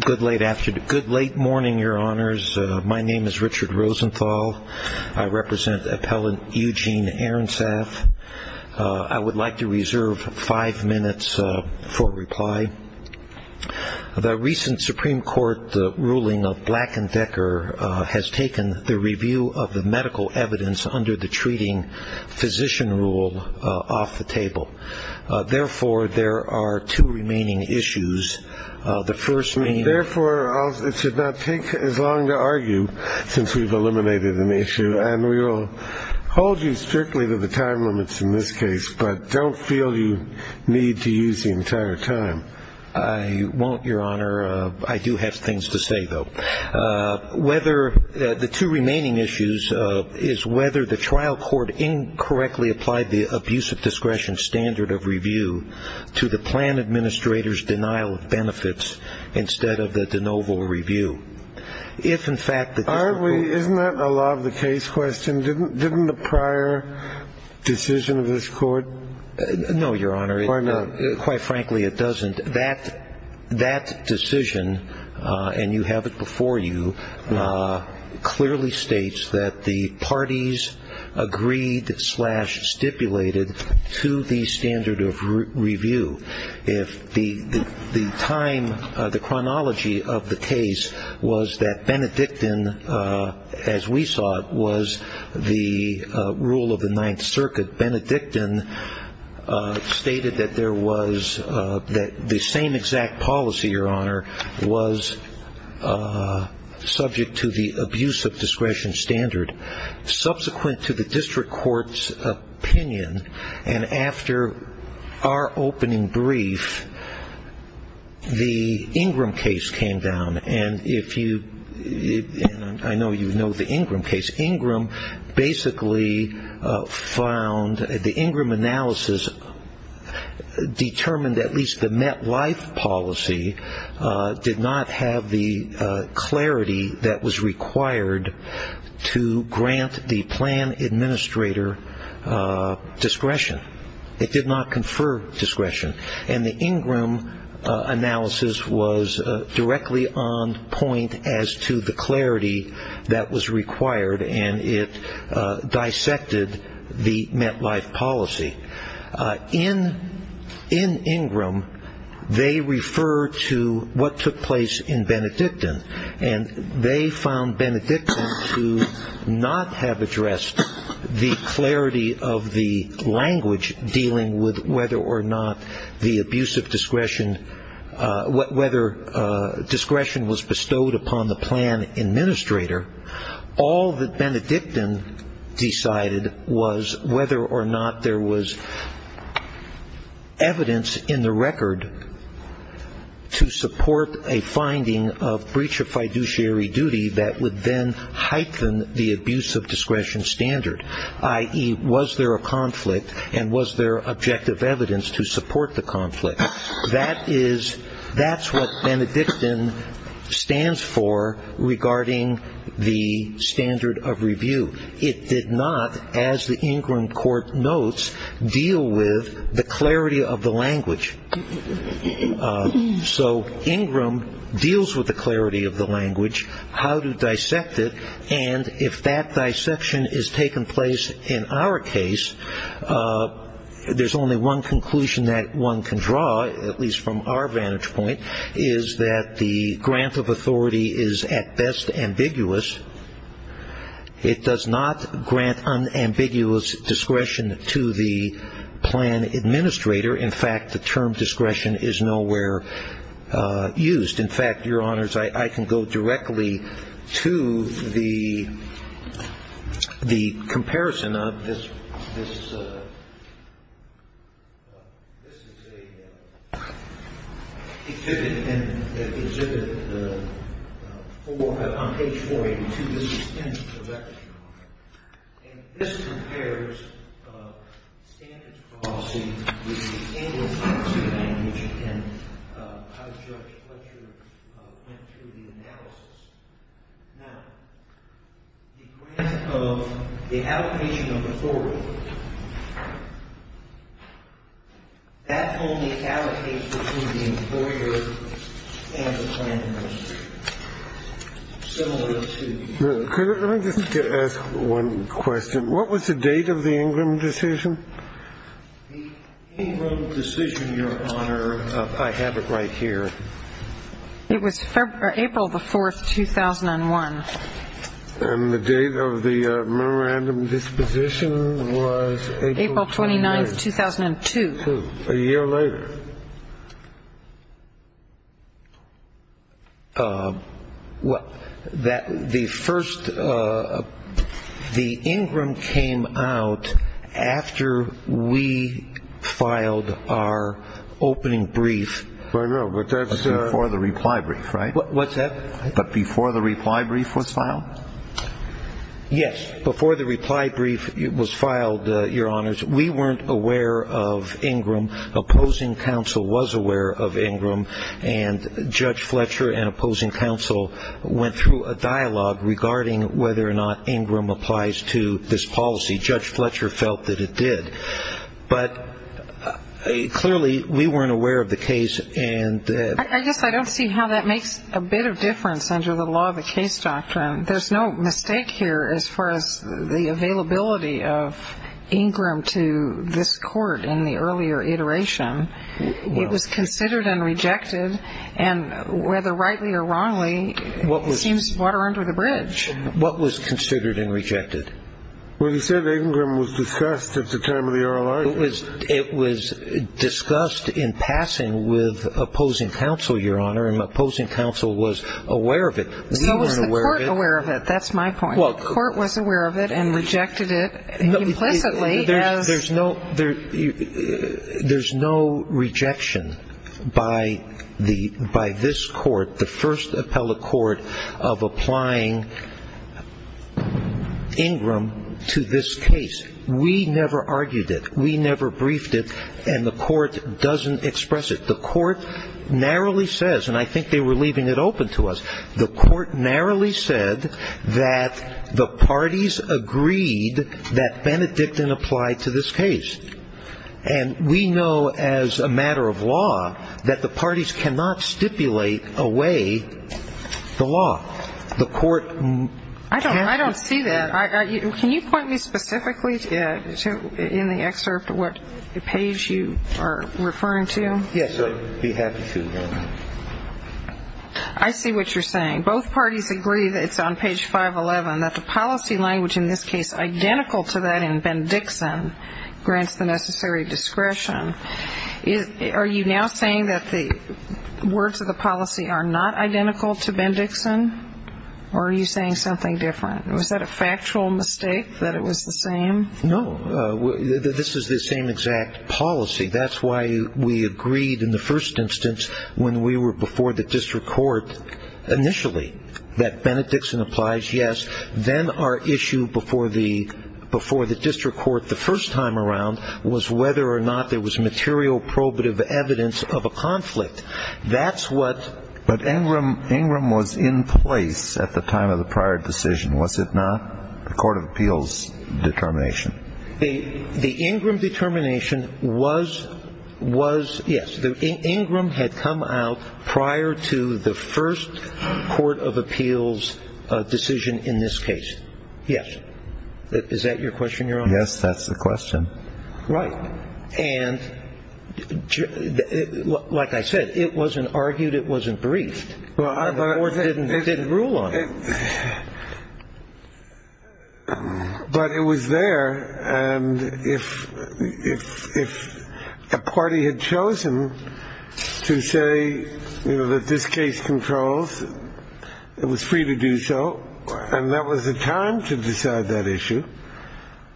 Good late morning, your honors. My name is Richard Rosenthal. I represent appellant Eugene Arrensaft. I would like to reserve five minutes for reply. The recent Supreme Court ruling of Black and Decker has taken the review of the medical evidence under the treating physician rule off the table. Therefore there are two remaining issues. The first... Therefore it should not take as long to argue since we've eliminated an issue and we will hold you strictly to the time limits in this case but don't feel you need to use the entire time. I won't your honor. I do have things to say though. Whether the two remaining issues is whether the trial court incorrectly applied the abusive discretion standard of review to the plan administrator's denial of benefits instead of the de novo review. If in fact... Aren't we... Isn't that a law of the case question? Didn't the prior decision of this court... No your honor. Why not? Quite frankly it doesn't. That decision and you have it before you clearly states that the parties agreed that slash stipulated to the standard of review. If the the time the chronology of the case was that Benedictine as we saw it was the rule of the Ninth Circuit. Benedictine stated that there was that the same exact policy your honor was subject to the abusive discretion standard. Subsequent to the district courts opinion and after our opening brief the Ingram case came down and if you I know you know the Ingram case. Ingram basically found the Ingram analysis determined at least the MetLife policy did not have the clarity that was required to grant the plan administrator discretion. It did not confer discretion and the Ingram analysis was directly on point as to the clarity that was required and it dissected the MetLife policy. In Ingram they refer to what took place in Benedictine and they found Benedictine to not have addressed the clarity of the language dealing with whether or not the abusive discretion what whether discretion was bestowed upon the plan administrator. All that Benedictine decided was whether or not there was evidence in the record to support a finding of breach of fiduciary duty that would then heighten the abusive discretion standard. I.e. was there a conflict and was there objective evidence to support the conflict. That is that's what Benedictine stands for regarding the standard of review. It did not as the Ingram court notes deal with the clarity of the language. So Ingram deals with the clarity of the language how to dissect it and if that dissection is taking place in our case there's only one conclusion that one can draw at least from our vantage point is that the grant of authority is at best ambiguous. It does not grant unambiguous discretion to the plan administrator. In fact the term discretion is nowhere used. In fact your honors I can go directly to the extent of that discretion. And this compares standards of policy with the Ingram policy language and as Judge Fletcher went through the analysis. Now the grant of the allocation of authority that only allocates to the employer and the plan administrator. Let me just ask one question. What was the date of the Ingram decision? The Ingram decision your honor I have it right here. It was April the 4th 2001. And the date of the memorandum disposition was April 29th 2002. A year later. The first the Ingram came out after we filed our opening brief. Before the reply brief right? What's that? Before the reply brief was filed? Yes. Before the reply brief was filed your honors we weren't aware of Ingram opposing counsel was aware of Ingram and Judge Fletcher and opposing counsel went through a dialogue regarding whether or not Ingram applies to this policy. Judge Fletcher felt that it did. But clearly we weren't aware of the case and I guess I don't see how that makes a bit of difference under the law of the case doctrine. There's no mistake here as far as the availability of Ingram to this consideration. It was considered and rejected and whether rightly or wrongly seems water under the bridge. What was considered and rejected? Well you said Ingram was discussed at the time of the oral argument. It was discussed in passing with opposing counsel your honor and opposing counsel was aware of it. So was the court aware of it. That's my point. The court was aware of it and there's no rejection by this court the first appellate court of applying Ingram to this case. We never argued it. We never briefed it and the court doesn't express it. The court narrowly says and I think they were leaving it open to us. The court narrowly said that the parties agreed that Benedictine applied to this case and we know as a matter of law that the parties cannot stipulate away the law. The court. I don't see that. Can you point me specifically in the excerpt what page you are referring to? Yes I'd be happy to. I see what you're saying. Both parties agree that it's on page 511 that the policy identical to that in Ben Dixon grants the necessary discretion. Are you now saying that the words of the policy are not identical to Ben Dixon or are you saying something different. Was that a factual mistake that it was the same. No this is the same exact policy. That's why we agreed in the first instance when we were before the district court initially that Benedictine applies. Yes. Then our issue before the before the district court the first time around was whether or not there was material probative evidence of a conflict. That's what. But Ingram was in place at the time of the prior decision was it not. The court of appeals determination. The Ingram determination was was yes. The Ingram had come out prior to the first court of appeals decision in this case. Yes. Is that your question Your Honor. Yes that's the question. Right. And like I said it wasn't argued it wasn't briefed. The court didn't rule on it. But it was there. And if if if a party had chosen to say you know that this case controls it was free to do so. And that was the time to decide that issue.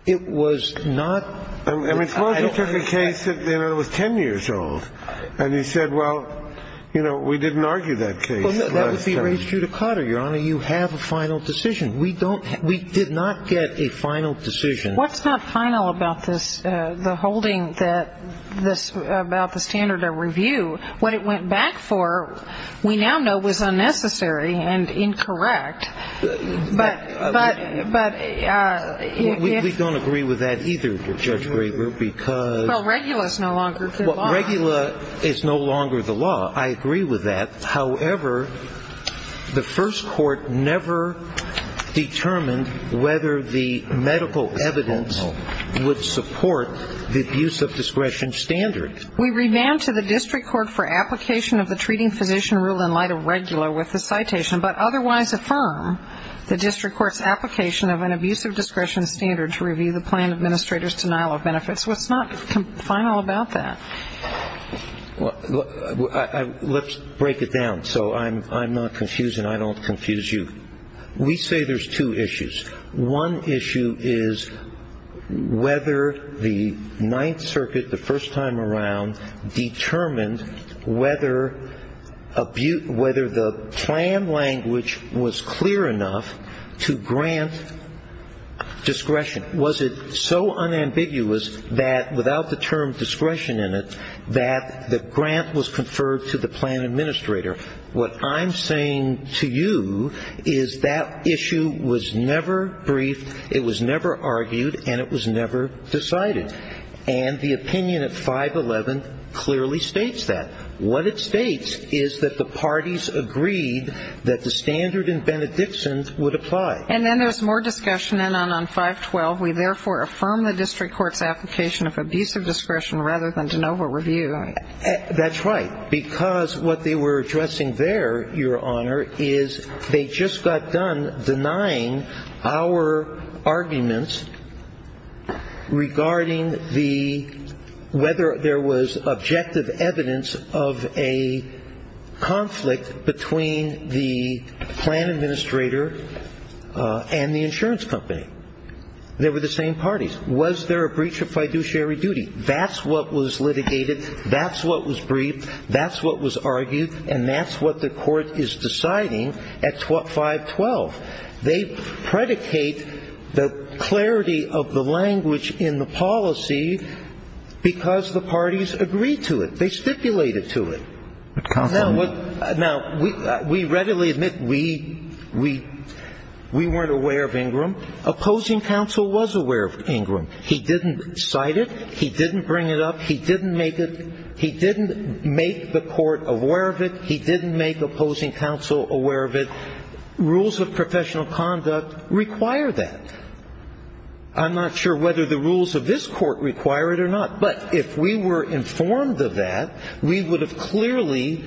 It was not a case that was 10 years old. And he said well you know we didn't argue that final decision. We don't. We did not get a final decision. What's not final about this. The holding that this about the standard of review what it went back for we now know was unnecessary and incorrect. But but but we don't agree with that either. Judge Graber because regular is no longer regular. It's no longer the law. I agree with that. However the first court never determined whether the medical evidence would support the use of discretion standard. We rebound to the district court for application of the treating physician rule in light of regular with the citation but otherwise affirm the district court's application of an abuse of discretion standard to review the plan administrator's denial of benefits. What's not final about that. Well let's break it down so I'm I'm not confused and I don't confuse you. We say there's two issues. One issue is whether the Ninth Circuit the first time around determined whether a beaut whether the plan language was clear enough to grant discretion. Was it so unambiguous that without the term discretion in it that the grant was conferred to the plan administrator. What I'm saying to you is that issue was never brief. It was never argued and it was never decided. And the opinion at 511 clearly states that. What it states is that the parties agreed that the standard would apply. And then there's more discussion in on on 512. We therefore affirm the district court's application of abuse of discretion rather than de novo review. That's right because what they were addressing there Your Honor is they just got done denying our arguments regarding the whether there was objective evidence of a conflict between the plan administrator and the insurance company. They were the same parties. Was there a breach of fiduciary duty. That's what was litigated. That's what was briefed. That's what was argued. And that's what the court is deciding at 512. They predicate the clarity of the language in the policy because the court was not aware of Ingram. And they stipulated to it. Now, we readily admit we weren't aware of Ingram. Opposing counsel was aware of Ingram. He didn't cite it. He didn't bring it up. He didn't make it. He didn't make the court aware of it. He didn't make opposing counsel aware of it. Rules of professional conduct require that. I'm not sure whether the rules of this court require it or not. But if we were informed of that, we would have clearly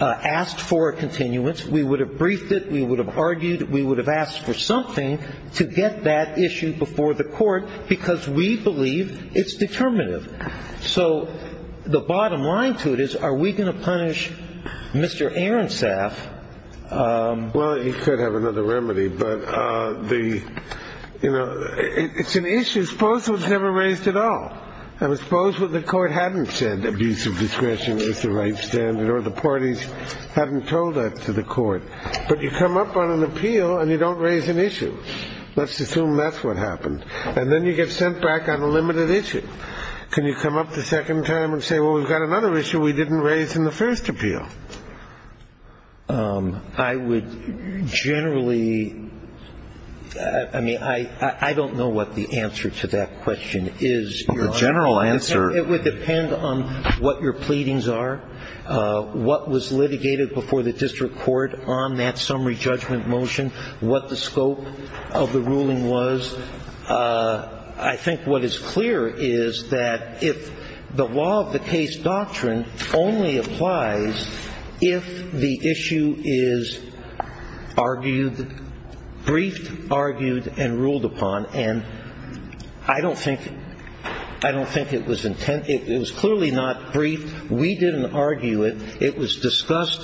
asked for a continuance. We would have briefed it. We would have argued. We would have asked for something to get that issue before the court because we believe it's determinative. So the bottom line to it is are we going to punish Mr. Aronsaf. Well, you could have another remedy. But the you know, it's an issue. I suppose it was never raised at all. I suppose what the court hadn't said, abuse of discretion is the right standard, or the parties hadn't told that to the court. But you come up on an appeal and you don't raise an issue. Let's assume that's what happened. And then you get sent back on a limited issue. Can you come up the second time and say, well, we've got another issue we didn't raise in the first appeal? I would generally I mean, I don't know what the answer to that question is. Well, the general answer. It would depend on what your pleadings are, what was litigated before the district court on that summary judgment motion, what the scope of the ruling was. I think what is clear is that if the law of the case doctrine only applies if the issue is argued, briefed, argued, and ruled upon. And I don't think that's the case. I don't think it was intent. It was clearly not briefed. We didn't argue it. It was discussed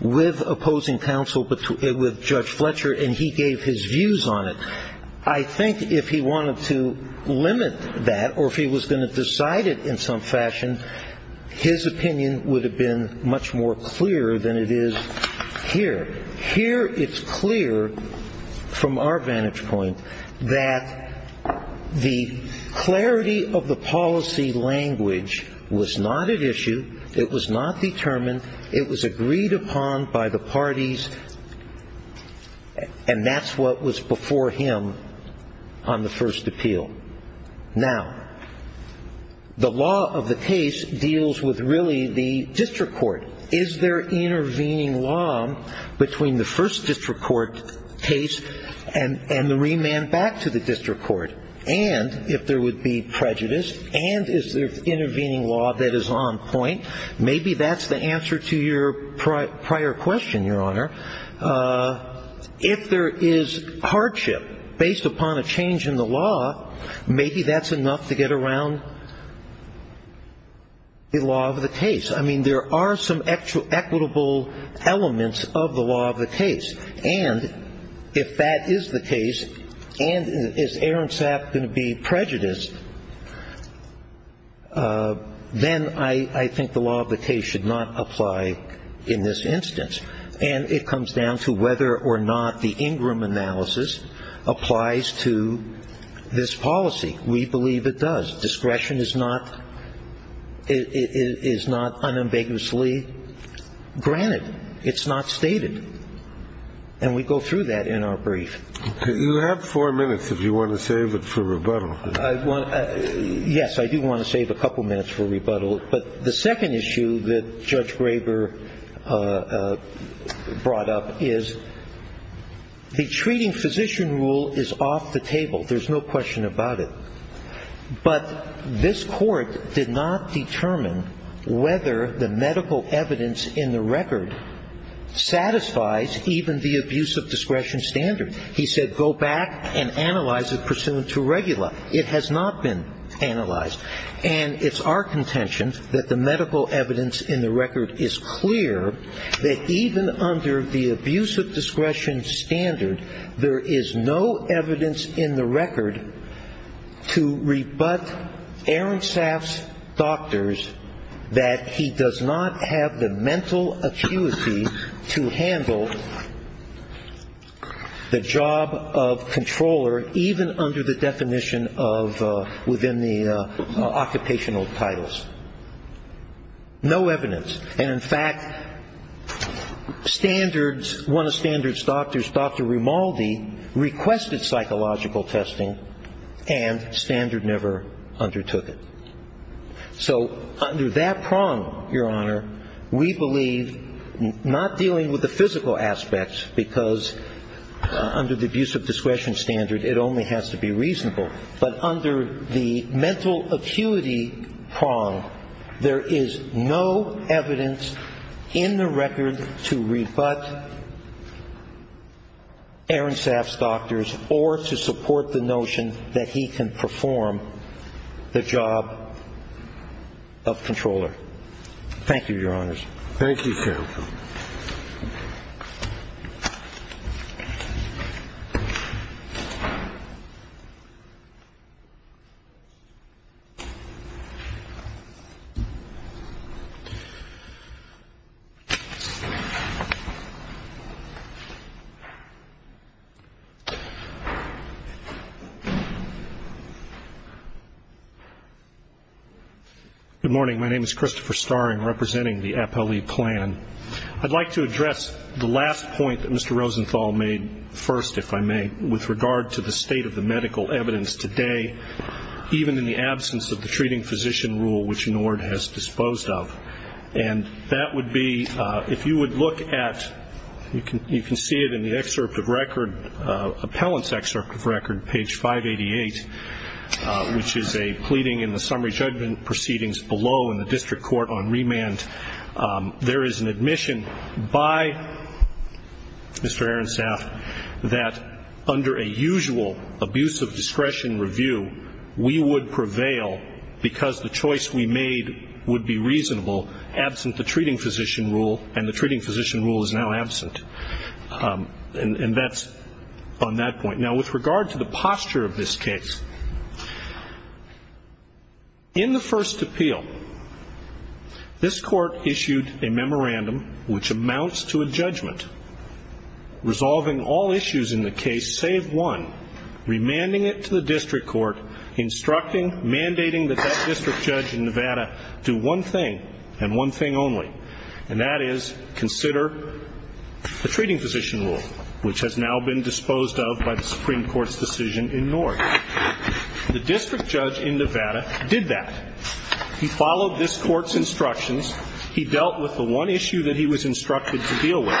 with opposing counsel, with Judge Fletcher, and he gave his views on it. I think if he wanted to limit that or if he was going to decide it in some fashion, his opinion would have been much more clear than it is here. Here it's clear, from our vantage point, that the clarity of the policy language was not at issue. It was not determined. It was agreed upon by the parties, and that's what was before him on the first appeal. Now, the law of the case deals with really the district court. Is there intervening law between the first district court case and the remand back to the district court? And if there would be prejudice, and is there intervening law that is on point, maybe that's the answer to your prior question, Your Honor. If there is hardship based upon a change in the law, maybe that's enough to get around the law of the case. I mean, there are some equitable elements of the law of the case. And if that is the case, and is Aaron Sapp going to be prejudiced, then I think the law of the case should not apply in this instance. And it comes down to whether or not the Ingram analysis applies to this policy. We believe it does. Discretion is not unambiguously granted. It's not stated. And we go through that in our brief. You have four minutes if you want to save it for rebuttal. Yes, I do want to save a couple minutes for rebuttal. But the second issue that Judge Graber brought up is the treating physician rule is off the table. There's no question about it. But this court did not determine whether the medical evidence in the record satisfies even the abuse of discretion standard. He said go back and analyze it pursuant to regular. It has not been analyzed. And it's our contention that the medical evidence in the record is clear that even under the abuse of discretion standard, there is no evidence in the record to rebut Aaron Sapp's doctors that he does not have the medical evidence to handle the job of controller, even under the definition of within the occupational titles. No evidence. And in fact, standards one of standards doctors, Dr. Rimaldi, requested psychological testing and standard never undertook it. So under that prong, Your Honor, we believe not dealing with the physical aspects because under the abuse of discretion standard, it only has to be reasonable. But under the mental acuity prong, there is no evidence in the record to rebut Aaron Sapp's doctors or to support the notion that he can perform the job of controller. Thank you, Your Honor. Good morning. My name is Christopher Starring, representing the APELI plan. I'd like to address the last point that Mr. Rosenthal made first, if I may, with regard to the state of the medical evidence today, even in the absence of the treating physician rule, which NORD has disposed of. And that would be, if you would look at, you can see it in the excerpt of record, appellant's excerpt of record, page 588, which is a pleading in the summary judgment proceedings below in the district court on remand. There is an admission by Mr. Aaron Sapp that under a usual abuse of discretion review, we would prevail because the choice we made would be reasonable, absent the treating physician rule, and the treating physician rule is now absent. And that's on that point. Now, with regard to the posture of this case, in the first appeal, this Court of Appeals, in the first appeal, has issued a memorandum which amounts to a judgment, resolving all issues in the case save one, remanding it to the district court, instructing, mandating that that district judge in Nevada do one thing and one thing only, and that is consider the treating physician rule, which has now been disposed of by the Supreme Court's decision in NORD. The district judge in Nevada did that. He followed this Court's instructions. He dealt with the one issue that he was instructed to deal with.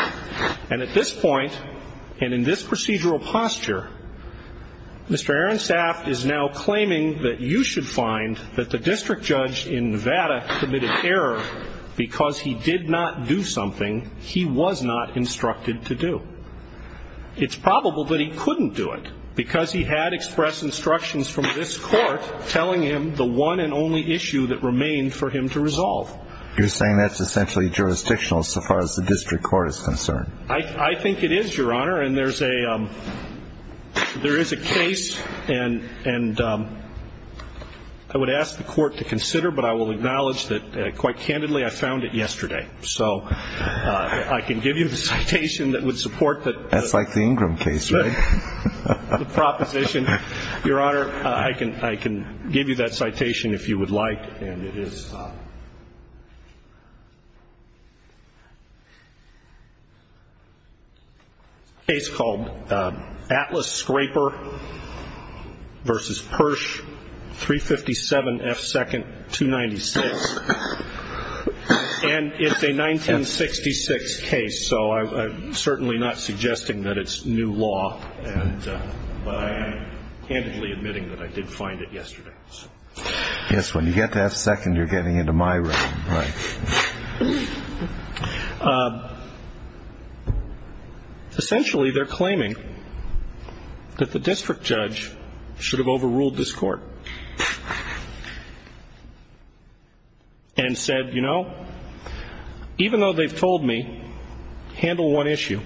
And at this point, and in this procedural posture, Mr. Aaron Sapp is now claiming that you should find that the district judge in Nevada committed error because he did not do something he was not instructed to do. It's probable that he couldn't do it, because he had expressed instructions from this Court telling him the one and only issue that remained for him to resolve. You're saying that's essentially jurisdictional so far as the district court is concerned. I think it is, Your Honor, and there is a case, and I would ask the Court to consider, but I will acknowledge that, quite candidly, I found it yesterday. So I can give you the citation that would support that. That's like the Ingram case, right? The proposition. Your Honor, I can give you that citation if you would like, and it is a case called Atlas Scraper v. Persh, 357 F. 2nd, 296. And it's a 1966 case, so I'm certainly not suggesting that it's a 1966 case. I'm suggesting that it's new law, but I am candidly admitting that I did find it yesterday. Yes, when you get to F. 2nd, you're getting into my realm. Essentially, they're claiming that the district judge should have overruled this Court and said, you know, even though they've told me, handle one issue,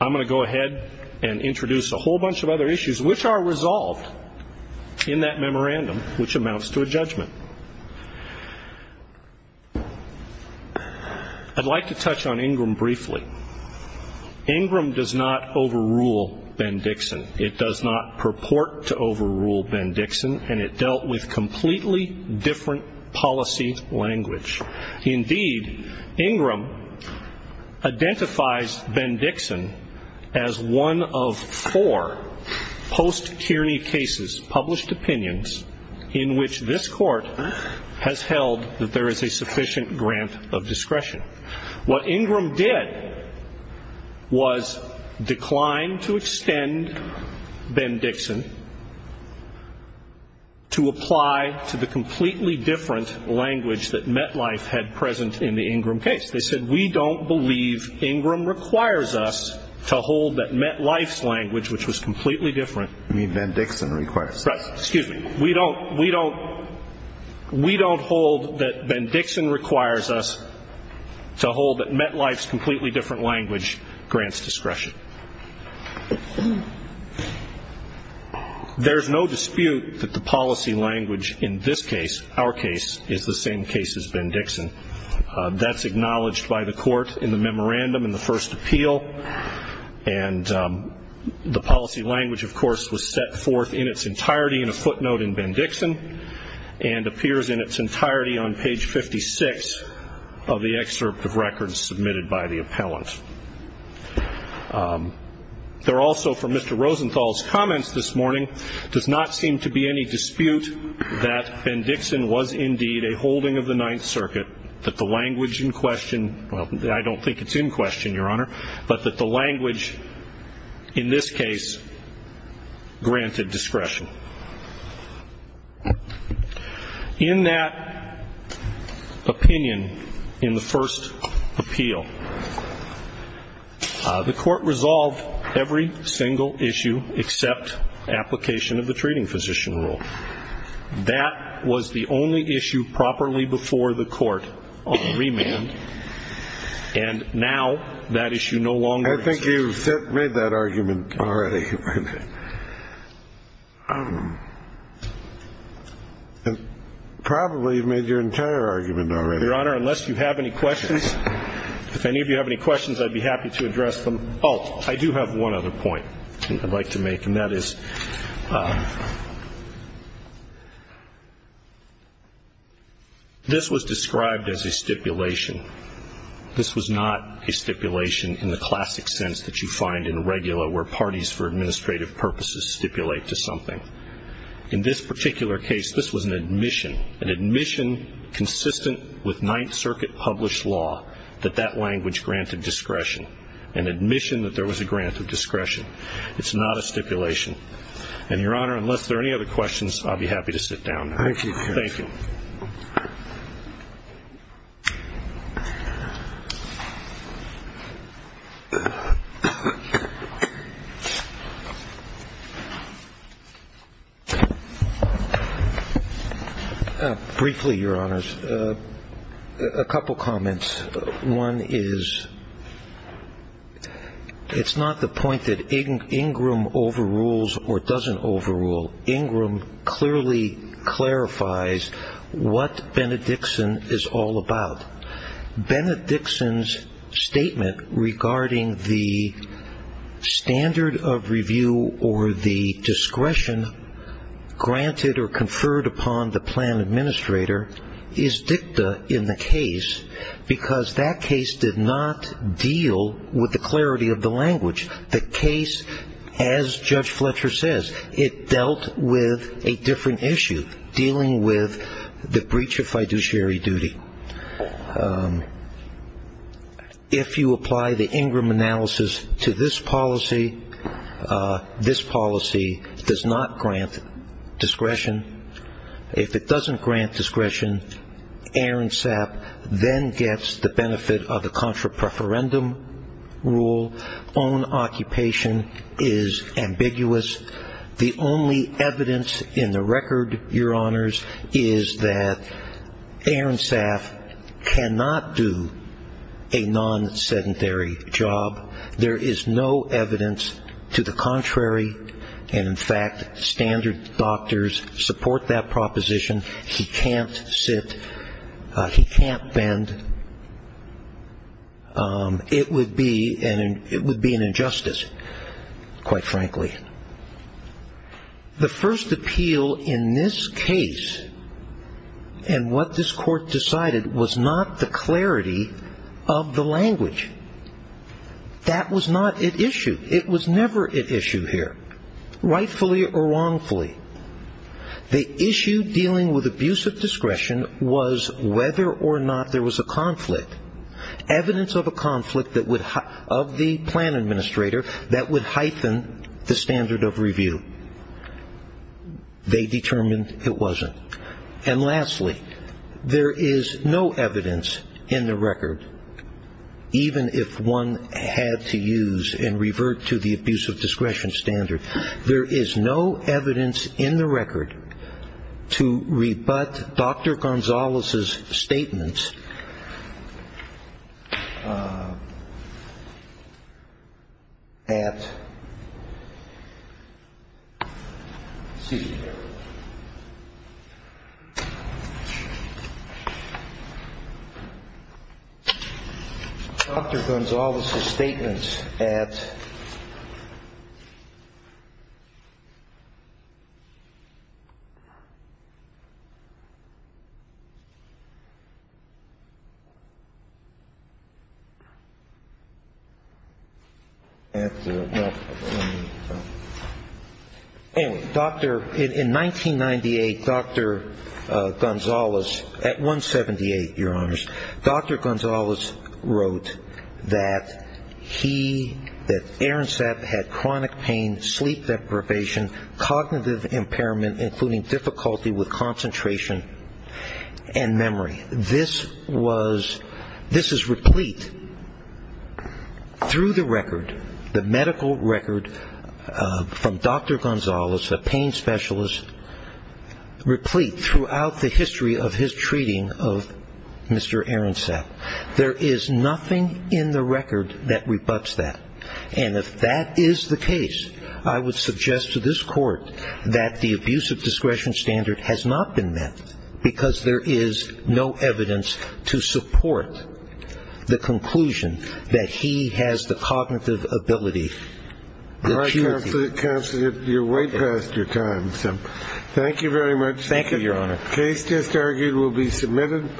I'm going to go ahead and introduce a whole bunch of other issues, which are resolved in that memorandum, which amounts to a judgment. I'd like to touch on Ingram briefly. Ingram does not overrule Ben Dixon. It does not purport to overrule Ben Dixon, and it dealt with completely different policy language. Indeed, Ingram identifies Ben Dixon as one of four post-tyrney cases, published opinions, in which this Court has held that there is a sufficient grant of discretion. What Ingram did was decline to extend Ben Dixon, and in doing so, to apply to the completely different language that MetLife had present in the Ingram case. They said, we don't believe Ingram requires us to hold that MetLife's language, which was completely different. You mean Ben Dixon requires us. Right. Excuse me. We don't hold that Ben Dixon requires us to hold that MetLife's completely different language grants discretion. There's no dispute that the policy language in this case, our case, is the same case as Ben Dixon. That's acknowledged by the Court in the memorandum in the first appeal, and the policy language, of course, was set forth in its entirety in a footnote in Ben Dixon, and appears in its entirety on page 56 of the excerpt of records submitted by the appellant. There also, from Mr. Rosenthal's comments this morning, does not seem to be any dispute that Ben Dixon was indeed a holding of the Ninth Circuit, that the language in question, well, I don't think it's in question, Your Honor, but that the language in this case granted discretion. In that opinion, in the first appeal, the Court resolved that there is sufficient grant of discretion. The Court resolved every single issue except application of the treating physician rule. That was the only issue properly before the Court on remand. And now that issue no longer exists. I think you've made that argument already. Probably you've made your entire argument already. Your Honor, unless you have any questions, if any of you have any questions, I'd be happy to address them. Oh, I do have one other point I'd like to make, and that is this was described as a stipulation. This was not a stipulation in the classic sense that you find in a regular where parties for administrative purposes stipulate to something. In this particular case, this was an admission, an admission consistent with the Ninth Circuit published law that that language granted discretion, an admission that there was a grant of discretion. It's not a stipulation. And, Your Honor, unless there are any other questions, I'd be happy to sit down. Thank you. Briefly, Your Honors, a couple comments. One is it's not the point that Ingram overrules or doesn't overrule. Ingram clearly clarifies what Benedictson is all about. Benedictson's statement regarding the standard of review or the discretion granted or conferred upon the plan administrator is dicta in the case, because that case did not deal with the clarity of the language. The case, as Judge Fletcher says, it dealt with a different issue, dealing with the breach of fiduciary duty. If you apply the Ingram analysis to this policy, this policy does not grant discretion. If it doesn't grant discretion, Aaron Sapp then gets the benefit of the contra-preferendum rule. Own occupation is ambiguous. The only evidence in the record, Your Honors, is that Aaron Sapp cannot do a non-sedentary job. There is no evidence to the contrary, and, in fact, standard doctors support that proposition. He can't sit, he can't bend. It would be an injustice, quite frankly. The first appeal in this case, and what this court decided, was not the clarity of the language. That was not at issue. It was never at issue here, rightfully or wrongfully. The issue dealing with abuse of discretion was whether or not there was a conflict. Evidence of a conflict of the plan administrator that would heighten the standard of review. They determined it wasn't. And, lastly, there is no evidence in the record, even if one had to use and revert to the abuse of discretion standard, there is no evidence in the record to rebut Dr. Gonzalez's statements at, excuse me, Dr. Gonzalez's statements at the, anyway, Dr. In 1998, Dr. Gonzalez, at 178, Your Honors, Dr. Gonzalez wrote that he, that Aaron Sapp had chronic pain, sleep deprivation, cognitive impairment, including difficulty with concentration and memory. This was, this is replete through the record, the medical record from Dr. Gonzalez's treatment of Aaron Sapp. There is nothing in the record that rebuts that. And if that is the case, I would suggest to this court that the abuse of discretion standard has not been met, because there is no evidence to support the conclusion that he has the cognitive ability. Thank you very much. Thank you, Your Honor. The case just argued will be submitted.